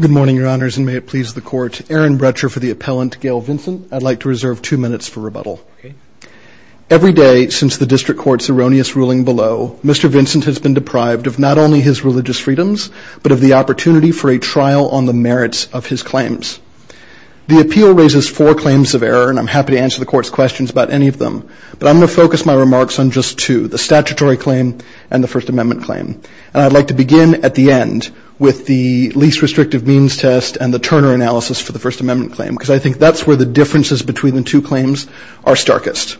Good morning, Your Honors, and may it please the Court, Aaron Bretscher for the Appellant Gail Vincent. I'd like to reserve two minutes for rebuttal. Every day since the District Court's erroneous ruling below, Mr. Vincent has been deprived of not only his religious freedoms, but of the opportunity for a trial on the merits of his claims. The appeal raises four claims of error, and I'm happy to answer the Court's questions about any of them, but I'm going to focus my remarks on just two, the statutory claim and the First Amendment claim. And I'd like to begin at the end with the least restrictive means test and the Turner analysis for the First Amendment claim, because I think that's where the differences between the two claims are starkest.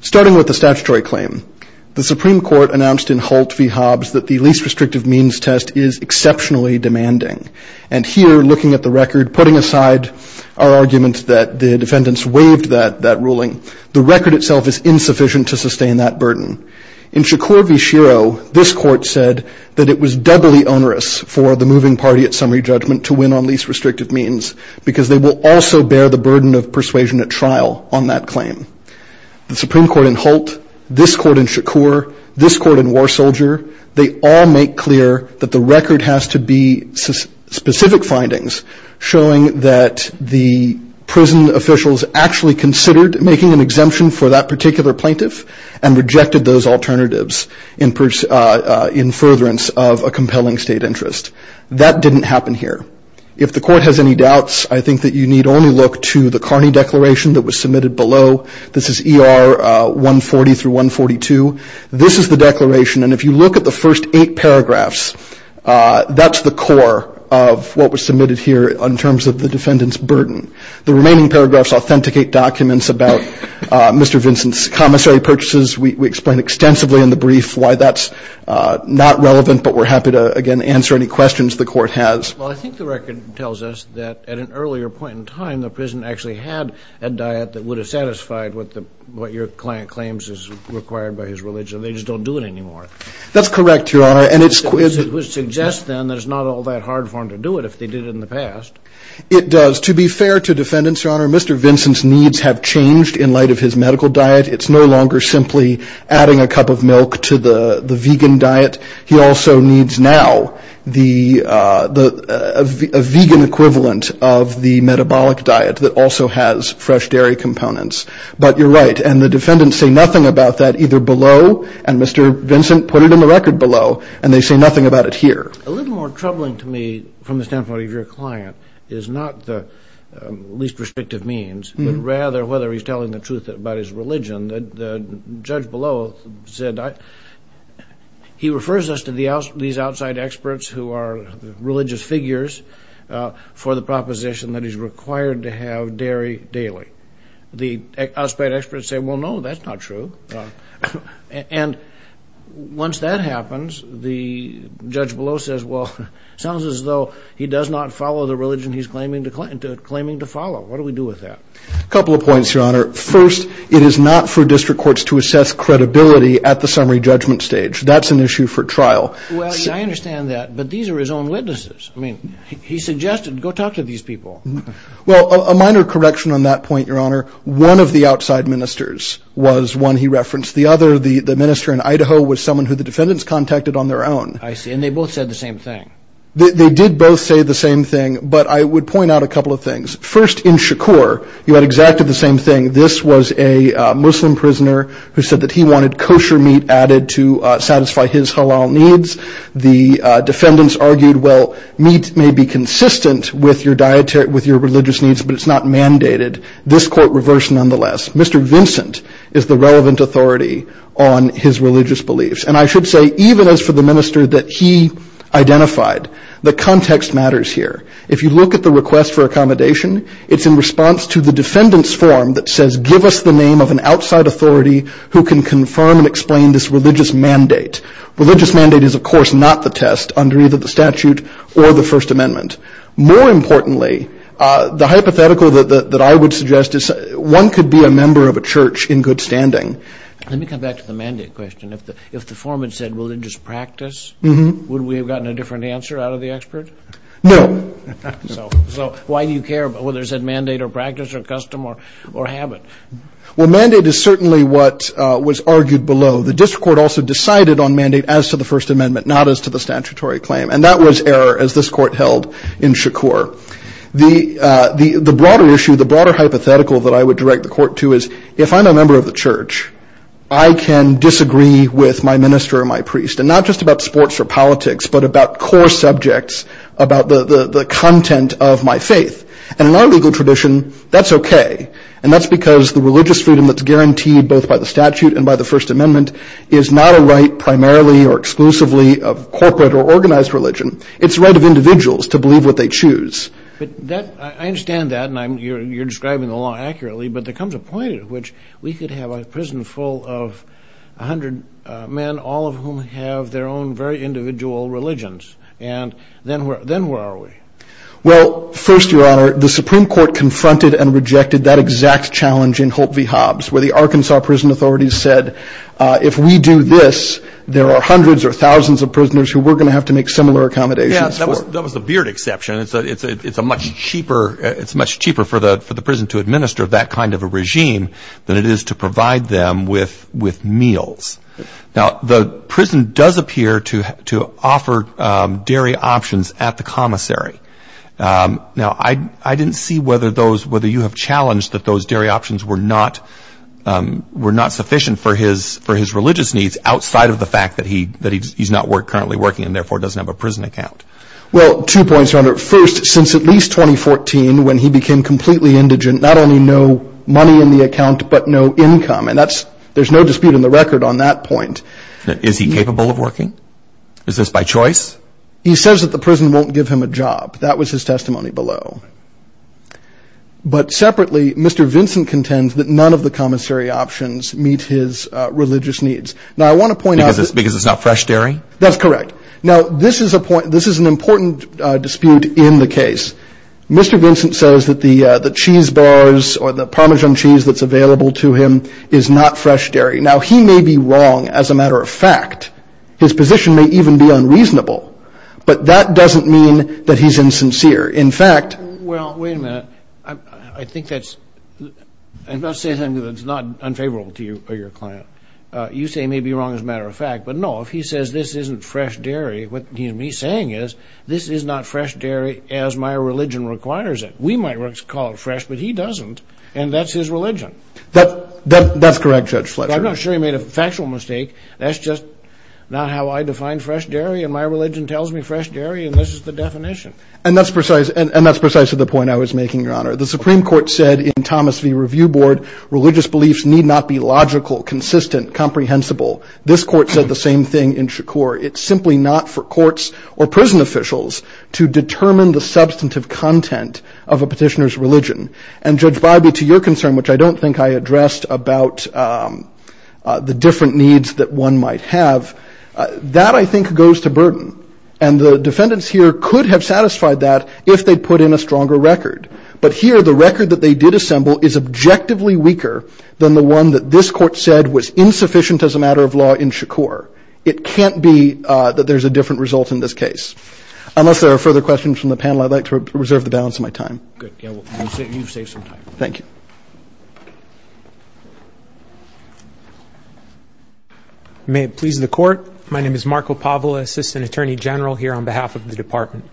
Starting with the statutory claim, the Supreme Court announced in Holt v. Hobbs that the least restrictive means test is exceptionally demanding. And here, looking at the record, putting aside our argument that the defendants waived that ruling, the record itself is insufficient to sustain that burden. In Shakur v. Shiro, this Court said that it was doubly onerous for the moving party at summary judgment to win on least restrictive means, because they will also bear the burden of persuasion at trial on that claim. The Supreme Court in Holt, this Court in Shakur, this Court in War Soldier, they all make clear that the record has to be specific findings showing that the prison officials actually considered making an exemption for that particular plaintiff and rejected those alternatives in furtherance of a compelling state interest. That didn't happen here. If the Court has any doubts, I think that you need only look to the Carney Declaration that was submitted below. This is ER 140 through 142. This is the declaration, and if you look at the first eight paragraphs, that's the core of what was submitted here in terms of the defendant's burden. The remaining paragraphs authenticate documents about Mr. Vincent's needs. We explain extensively in the brief why that's not relevant, but we're happy to, again, answer any questions the Court has. Well, I think the record tells us that at an earlier point in time, the prison actually had a diet that would have satisfied what your client claims is required by his religion. They just don't do it anymore. That's correct, Your Honor, and it's... Which suggests, then, that it's not all that hard for them to do it if they did it in the past. It does. To be fair to defendants, Your Honor, Mr. Vincent's needs have changed in light of his medical diet. It's no longer simply adding a cup of milk to the vegan diet. He also needs now a vegan equivalent of the metabolic diet that also has fresh dairy components. But you're right, and the defendants say nothing about that either below, and Mr. Vincent put it in the record below, and they say nothing about it here. A little more troubling to me from the standpoint of your client is not the least restrictive means, but rather whether he's telling the truth about his religion. The judge below said, he refers us to these outside experts who are religious figures for the proposition that he's required to have dairy daily. The outside experts say, well, no, that's not true. And once that happens, the judge below says, well, it sounds as though he does not believe in the religion he's claiming to follow. What do we do with that? A couple of points, Your Honor. First, it is not for district courts to assess credibility at the summary judgment stage. That's an issue for trial. Well, I understand that, but these are his own witnesses. I mean, he suggested, go talk to these people. Well, a minor correction on that point, Your Honor. One of the outside ministers was one he referenced. The other, the minister in Idaho, was someone who the defendants contacted on their own. I see. And they both said the same thing. They did both say the same thing, but I would point out a couple of things. First, in Shakur, you had exactly the same thing. This was a Muslim prisoner who said that he wanted kosher meat added to satisfy his halal needs. The defendants argued, well, meat may be consistent with your religious needs, but it's not mandated. This court reversed nonetheless. Mr. Vincent is the relevant authority on his religious beliefs. And I should say, even though he says for the minister that he identified, the context matters here. If you look at the request for accommodation, it's in response to the defendant's form that says, give us the name of an outside authority who can confirm and explain this religious mandate. Religious mandate is, of course, not the test under either the statute or the First Amendment. More importantly, the hypothetical that I would suggest is one could be a member of a church in good standing. Let me come back to the mandate question. If the foreman said religious practice, would we have gotten a different answer out of the expert? No. So why do you care whether it said mandate or practice or custom or habit? Well, mandate is certainly what was argued below. The district court also decided on mandate as to the First Amendment, not as to the statutory claim. And that was error, as this court held in Shakur. The broader issue, the broader hypothetical that I would I can disagree with my minister or my priest, and not just about sports or politics, but about core subjects, about the content of my faith. And in our legal tradition, that's okay. And that's because the religious freedom that's guaranteed both by the statute and by the First Amendment is not a right primarily or exclusively of corporate or organized religion. It's the right of individuals to believe what they choose. I understand that, and you're describing the law accurately, but there comes a point at which we could have a prison full of 100 men, all of whom have their own very individual religions. And then where are we? Well, first, Your Honor, the Supreme Court confronted and rejected that exact challenge in Holt v. Hobbs, where the Arkansas prison authorities said, if we do this, there are hundreds or thousands of prisoners who we're going to have to make similar accommodations for. Yeah, that was the Beard exception. It's a much cheaper for the prison to administer that kind of a regime than it is to provide them with meals. Now, the prison does appear to offer dairy options at the commissary. Now, I didn't see whether you have challenged that those dairy options were not sufficient for his religious needs outside of the fact that he's not currently working and therefore doesn't have a prison account. Well, two points, Your Honor. First, since at least 2014, when he became completely indigent, not only no money in the account, but no income. And that's, there's no dispute in the record on that point. Is he capable of working? Is this by choice? He says that the prison won't give him a job. That was his testimony below. But separately, Mr. Vincent contends that none of the commissary options meet his religious needs. Now, I want to point out... Because it's not fresh dairy? That's correct. Now, this is a point, this is an important dispute in the case. Mr. Vincent says that the cheese bars or the Parmesan cheese that's available to him is not fresh dairy. Now, he may be wrong, as a matter of fact. His position may even be unreasonable. But that doesn't mean that he's insincere. In fact... Well, wait a minute. I think that's... I'm not saying that it's not unfavorable to you or your client. You say he may be wrong, as a matter of fact. But no, if he says this isn't fresh dairy, what he and me are saying is, this is not fresh dairy as my religion requires it. We might call it fresh, but he doesn't, and that's his religion. That's correct, Judge Fletcher. I'm not sure he made a factual mistake. That's just not how I define fresh dairy, and my religion tells me fresh dairy, and this is the definition. And that's precise... And that's precise to the point I was making, Your Honor. The Supreme Court said in Thomas v. Review Board, religious beliefs need not be logical, consistent, comprehensible. This court said the same thing in Shakur. It's simply not for courts or prison officials to determine the substantive content of a petitioner's religion. And Judge Bybee, to your concern, which I don't think I addressed about the different needs that one might have, that I think goes to burden. And the defendants here could have satisfied that if they'd put in a stronger record. But here, the record that they did assemble is objectively weaker than the one that this court said was insufficient as a matter of law in Shakur. It can't be that there's a different result in this case. Unless there are further questions from the panel, I'd like to reserve the balance of my time. Good. You've saved some time. Thank you. May it please the Court, my name is Marco Pavola, Assistant Attorney General here on behalf of the Department.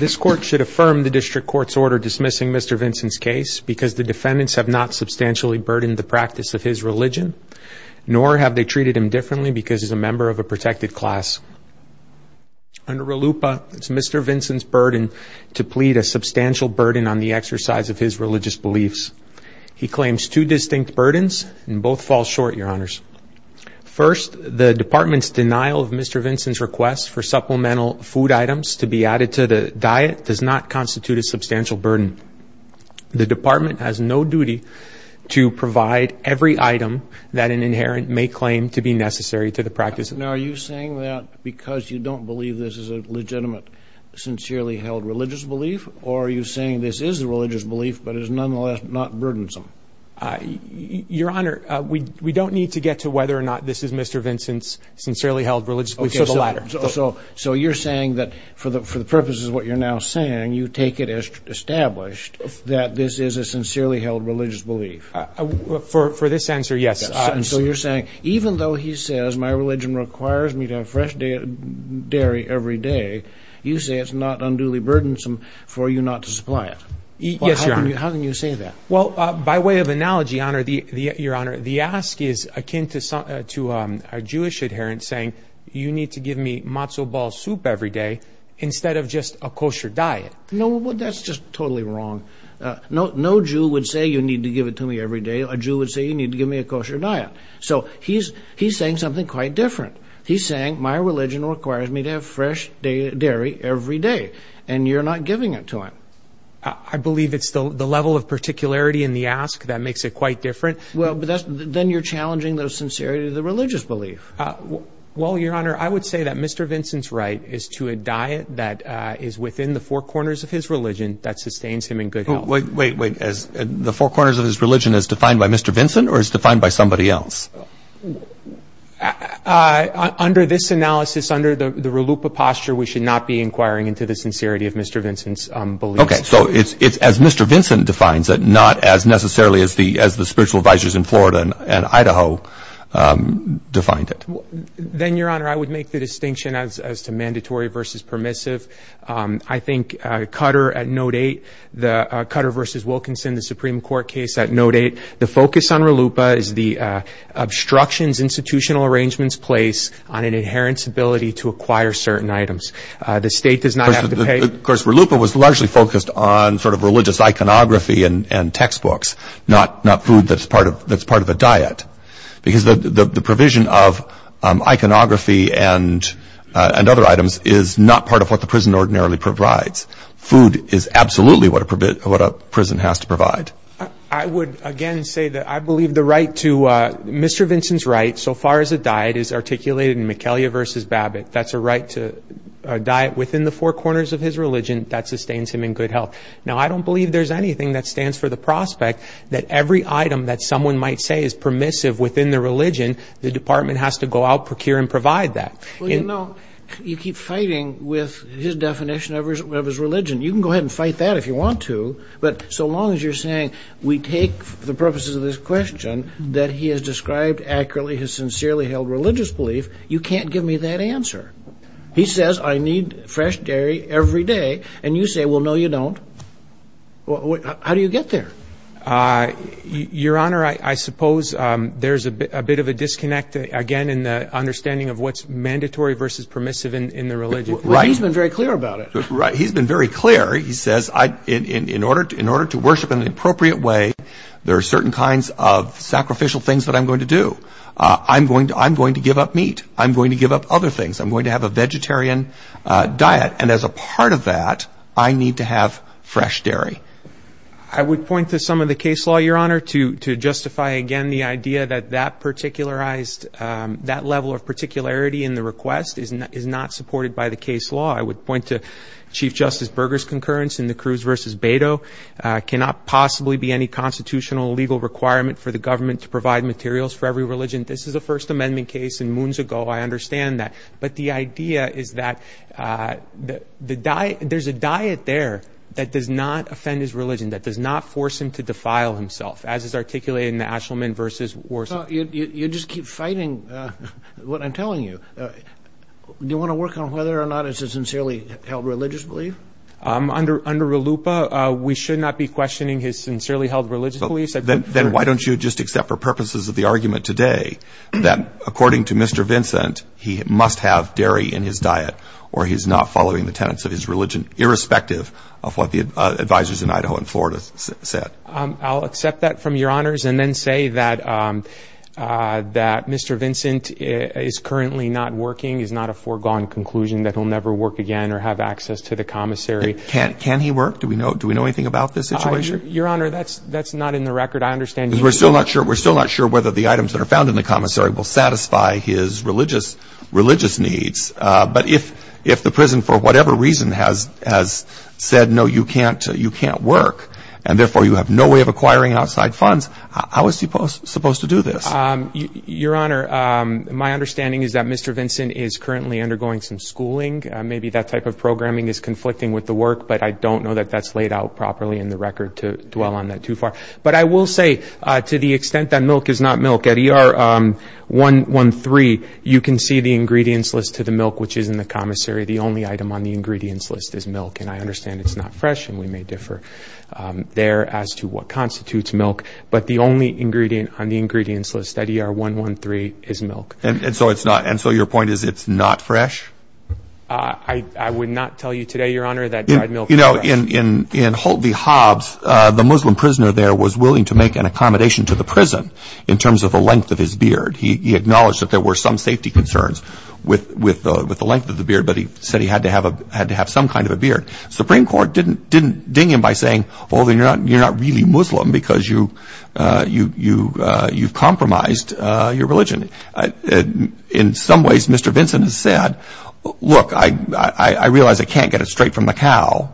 This Court should affirm the District Court's order dismissing Mr. Vincent's case because the defendants have not substantially burdened the practice of his religion, nor have they treated him differently because he's a member of a protected class. Under RLUPA, it's Mr. Vincent's burden to plead a substantial burden on the exercise of his religious beliefs. He claims two distinct burdens, and both fall short, Your Honors. First, the Department's denial of Mr. Vincent's request for supplemental food items to be added to the diet does not constitute a substantial burden. The Department has no duty to provide every item that an inherent may claim to be necessary to the practice. Now, are you saying that because you don't believe this is a legitimate, sincerely held religious belief, or are you saying this is a religious belief, but is nonetheless not burdensome? Your Honor, we don't need to get to whether or not this is Mr. Vincent's sincerely held religious belief. Okay, so you're saying that for the purposes of what you're now saying, you take it as established that this is a sincerely held religious belief. For this answer, yes. And so you're saying, even though he says, my religion requires me to have fresh dairy every day, you say it's not unduly burdensome for you not to supply it. Yes, Your Honor. How can you say that? Well, by way of analogy, Your Honor, the ask is akin to a Jewish adherent saying, you need to give me matzo ball soup every day instead of just a kosher diet. That's just totally wrong. No Jew would say, you need to give it to me every day. A Jew would say, you need to give me a kosher diet. So he's saying something quite different. He's saying, my religion requires me to have fresh dairy every day, and you're not giving it to him. I believe it's the level of particularity in the ask that makes it quite different. Then you're challenging the sincerity of the religious belief. Well, Your Honor, I would say that Mr. Vincent's right is to a diet that is within the four corners of his religion that sustains him in good health. Wait, wait, wait. The four corners of his religion is defined by Mr. Vincent or is defined by somebody else? Under this analysis, under the RLUIPA posture, we should not be inquiring into the sincerity of Mr. Vincent's beliefs. OK. So it's as Mr. Vincent defines it, not as necessarily as the spiritual advisors in Florida and Idaho defined it. Then Your Honor, I would make the distinction as to mandatory versus permissive. I think Cutter at Note 8, the Cutter versus Wilkinson, the Supreme Court case at Note 8, the focus on RLUIPA is the obstructions institutional arrangements place on an inherent stability to acquire certain items. The state does not have to pay. Of course, RLUIPA was largely focused on sort of religious iconography and textbooks, not food that's part of a diet. Because the provision of iconography and other items is not part of what the prison ordinarily provides. Food is absolutely what a prison has to provide. I would, again, say that I believe the right to Mr. Vincent's right so far as a diet is articulated in Michelia versus Babbitt. That's a right to a diet within the four corners of his religion that sustains him in good health. Now, I don't believe there's anything that stands for the prospect that every item that is permissive within the religion, the department has to go out, procure, and provide that. Well, you know, you keep fighting with his definition of his religion. You can go ahead and fight that if you want to, but so long as you're saying we take the purposes of this question that he has described accurately, his sincerely held religious belief, you can't give me that answer. He says I need fresh dairy every day, and you say, well, no, you don't. How do you get there? Your Honor, I suppose there's a bit of a disconnect, again, in the understanding of what's mandatory versus permissive in the religion. Right. But he's been very clear about it. Right. He's been very clear. He says in order to worship in an appropriate way, there are certain kinds of sacrificial things that I'm going to do. I'm going to give up meat. I'm going to give up other things. I'm going to have a vegetarian diet, and as a part of that, I need to have fresh dairy. I would point to some of the case law, Your Honor, to justify, again, the idea that that particularized, that level of particularity in the request is not supported by the case law. I would point to Chief Justice Berger's concurrence in the Cruz versus Beto, cannot possibly be any constitutional legal requirement for the government to provide materials for every religion. This is a First Amendment case, and moons ago, I understand that. But the idea is that there's a diet there that does not offend his religion, that does not force him to defile himself, as is articulated in the Ashelman versus Warsaw. You just keep fighting what I'm telling you. Do you want to work on whether or not it's a sincerely held religious belief? Under RLUIPA, we should not be questioning his sincerely held religious beliefs. Then why don't you just accept for purposes of the argument today that according to Mr. Vincent, he must have dairy in his diet, or he's not following the tenets of his religion, irrespective of what the advisors in Idaho and Florida said? I'll accept that from Your Honors, and then say that Mr. Vincent is currently not working, is not a foregone conclusion that he'll never work again or have access to the commissary. Can he work? Do we know anything about this situation? Your Honor, that's not in the record. I understand you're still... We're still not sure. We're still not sure whether the items that are found in the commissary will satisfy his religious needs. But if the prison, for whatever reason, has said, no, you can't work, and therefore you have no way of acquiring outside funds, how is he supposed to do this? Your Honor, my understanding is that Mr. Vincent is currently undergoing some schooling. Maybe that type of programming is conflicting with the work, but I don't know that that's laid out properly in the record to dwell on that too far. But I will say, to the extent that milk is not milk, at ER 113, you can see the ingredients list to the milk, which is in the commissary. The only item on the ingredients list is milk, and I understand it's not fresh, and we may differ there as to what constitutes milk, but the only ingredient on the ingredients list at ER 113 is milk. And so your point is it's not fresh? I would not tell you today, Your Honor, that dried milk is fresh. You know, in Holt v. Hobbs, the Muslim prisoner there was willing to make an accommodation to the prison in terms of the length of his beard. He acknowledged that there were some safety concerns with the length of the beard, but he said he had to have some kind of a beard. Supreme Court didn't ding him by saying, oh, then you're not really Muslim because you've compromised your religion. And in some ways, Mr. Vinson has said, look, I realize I can't get it straight from the cow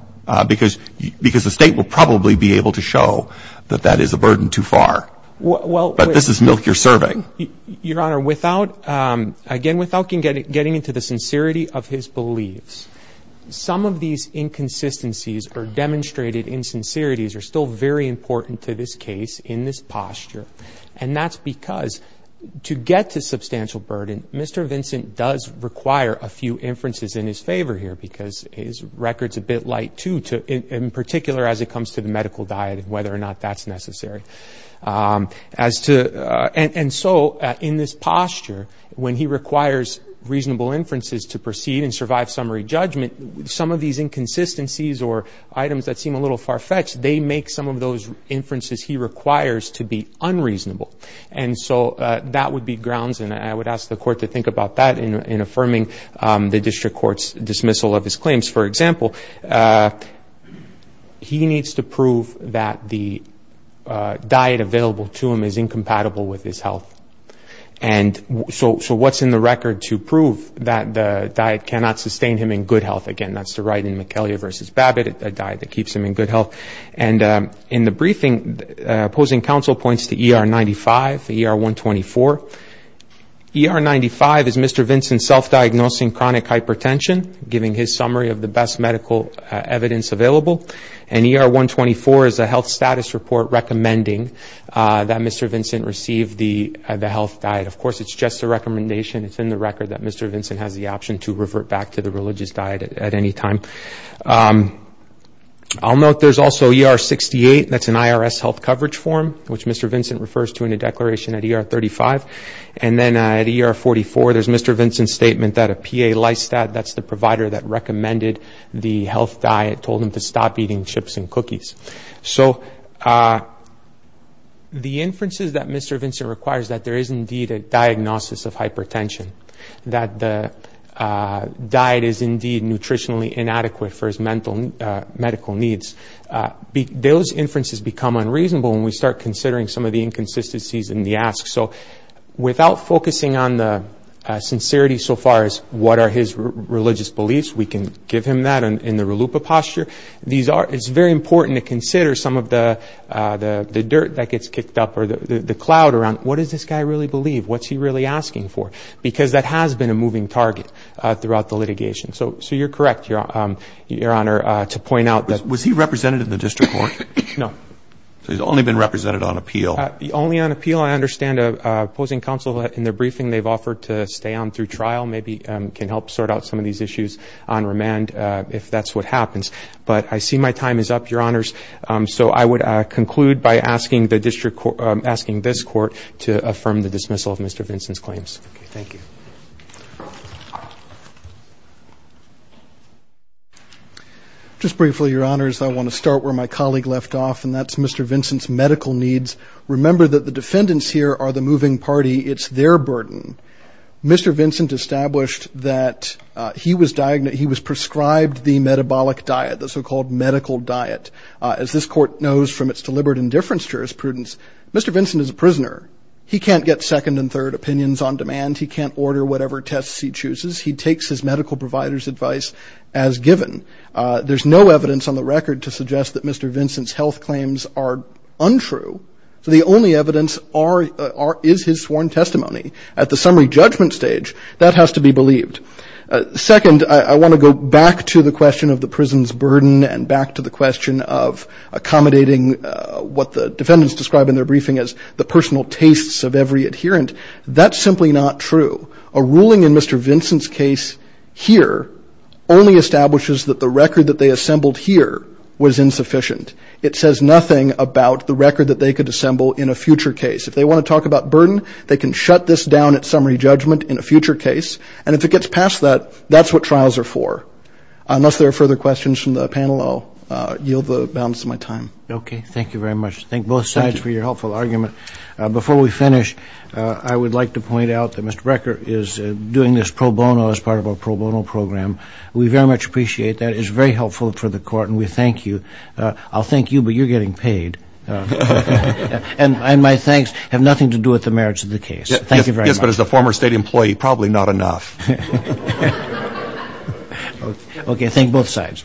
because the State will probably be able to show that that is a burden too far. But this is milk you're serving. Your Honor, again, without getting into the sincerity of his beliefs, some of these inconsistencies or demonstrated insincerities are still very important to this case in this posture. And that's because to get to substantial burden, Mr. Vinson does require a few inferences in his favor here because his record's a bit light too, in particular as it comes to the medical diet and whether or not that's necessary. And so in this posture, when he requires reasonable inferences to proceed and survive summary judgment, some of these inconsistencies or items that seem a little far-fetched, they make some of those inferences he requires to be unreasonable. And so that would be grounds, and I would ask the Court to think about that in affirming the District Court's dismissal of his claims. For example, he needs to prove that the diet available to him is incompatible with his health. And so what's in the record to prove that the diet cannot sustain him in good health? Again, that's the right in McKellar v. Babbitt, a diet that keeps him in good health. And in the briefing, opposing counsel points to ER-95, ER-124. ER-95 is Mr. Vinson self-diagnosing chronic hypertension, giving his summary of the best medical evidence available. And ER-124 is a health status report recommending that Mr. Vinson receive the health diet. Of course, it's just a recommendation. It's in the record that Mr. Vinson has the option to revert back to the religious diet at any time. I'll note there's also ER-68, that's an IRS health coverage form, which Mr. Vinson refers to in a declaration at ER-35. And then at ER-44, there's Mr. Vinson's statement that a PA licensed that, that's the provider that recommended the health diet, told him to stop eating chips and cookies. So the inferences that Mr. Vinson requires, that there is indeed a diagnosis of hypertension, that the diet is indeed nutritionally inadequate for his medical needs, those inferences become unreasonable when we start considering some of the inconsistencies in the ask. So without focusing on the sincerity so far as what are his religious beliefs, we can give him that in the relupa posture. It's very important to consider some of the dirt that gets kicked up, or the cloud around what does this guy really believe, what's he really asking for, because that has been a moving target throughout the litigation. So you're correct, Your Honor, to point out that... Was he represented in the district court? No. So he's only been represented on appeal. Only on appeal. I understand opposing counsel, in their briefing, they've offered to stay on through trial. Maybe can help sort out some of these issues on remand, if that's what happens. But I see my time is up, Your Honors. So I would conclude by asking this court to affirm the dismissal of Mr. Vinson's claims. Just briefly, Your Honors, I want to start where my colleague left off, and that's Mr. Vinson's medical needs. Remember that the defendants here are the moving party. It's their burden. Mr. Vinson established that he was prescribed the metabolic diet, the so-called medical diet. As this court knows from its deliberate indifference to jurisprudence, Mr. Vinson is a prisoner. He can't get second and third opinions on demand. He can't order whatever tests he chooses. He takes his medical provider's advice as given. There's no evidence on the record to suggest that Mr. Vinson's health claims are untrue. The only evidence is his sworn testimony. At the summary judgment stage, that has to be believed. Second, I want to go back to the question of the prison's burden and back to the question of accommodating what the defendants describe in their briefing as the personal tastes of every adherent. That's simply not true. A ruling in Mr. Vinson's case here only establishes that the record that they assembled here was insufficient. It says nothing about the record that they could assemble in a future case. If they want to talk about burden, they can shut this down at summary judgment in a future case. And if it gets past that, that's what trials are for. Unless there are further questions from the panel, I'll yield the balance of my time. Okay. Thank you very much. Thank both sides for your helpful argument. Before we finish, I would like to point out that Mr. Brekker is doing this pro bono as part of our pro bono program. We very much appreciate that. It is very helpful for the court and we thank you. I'll thank you, but you're getting paid. And my thanks have nothing to do with the merits of the case. Thank you very much. Yes, but as a former state employee, probably not enough. Okay. Thank both sides.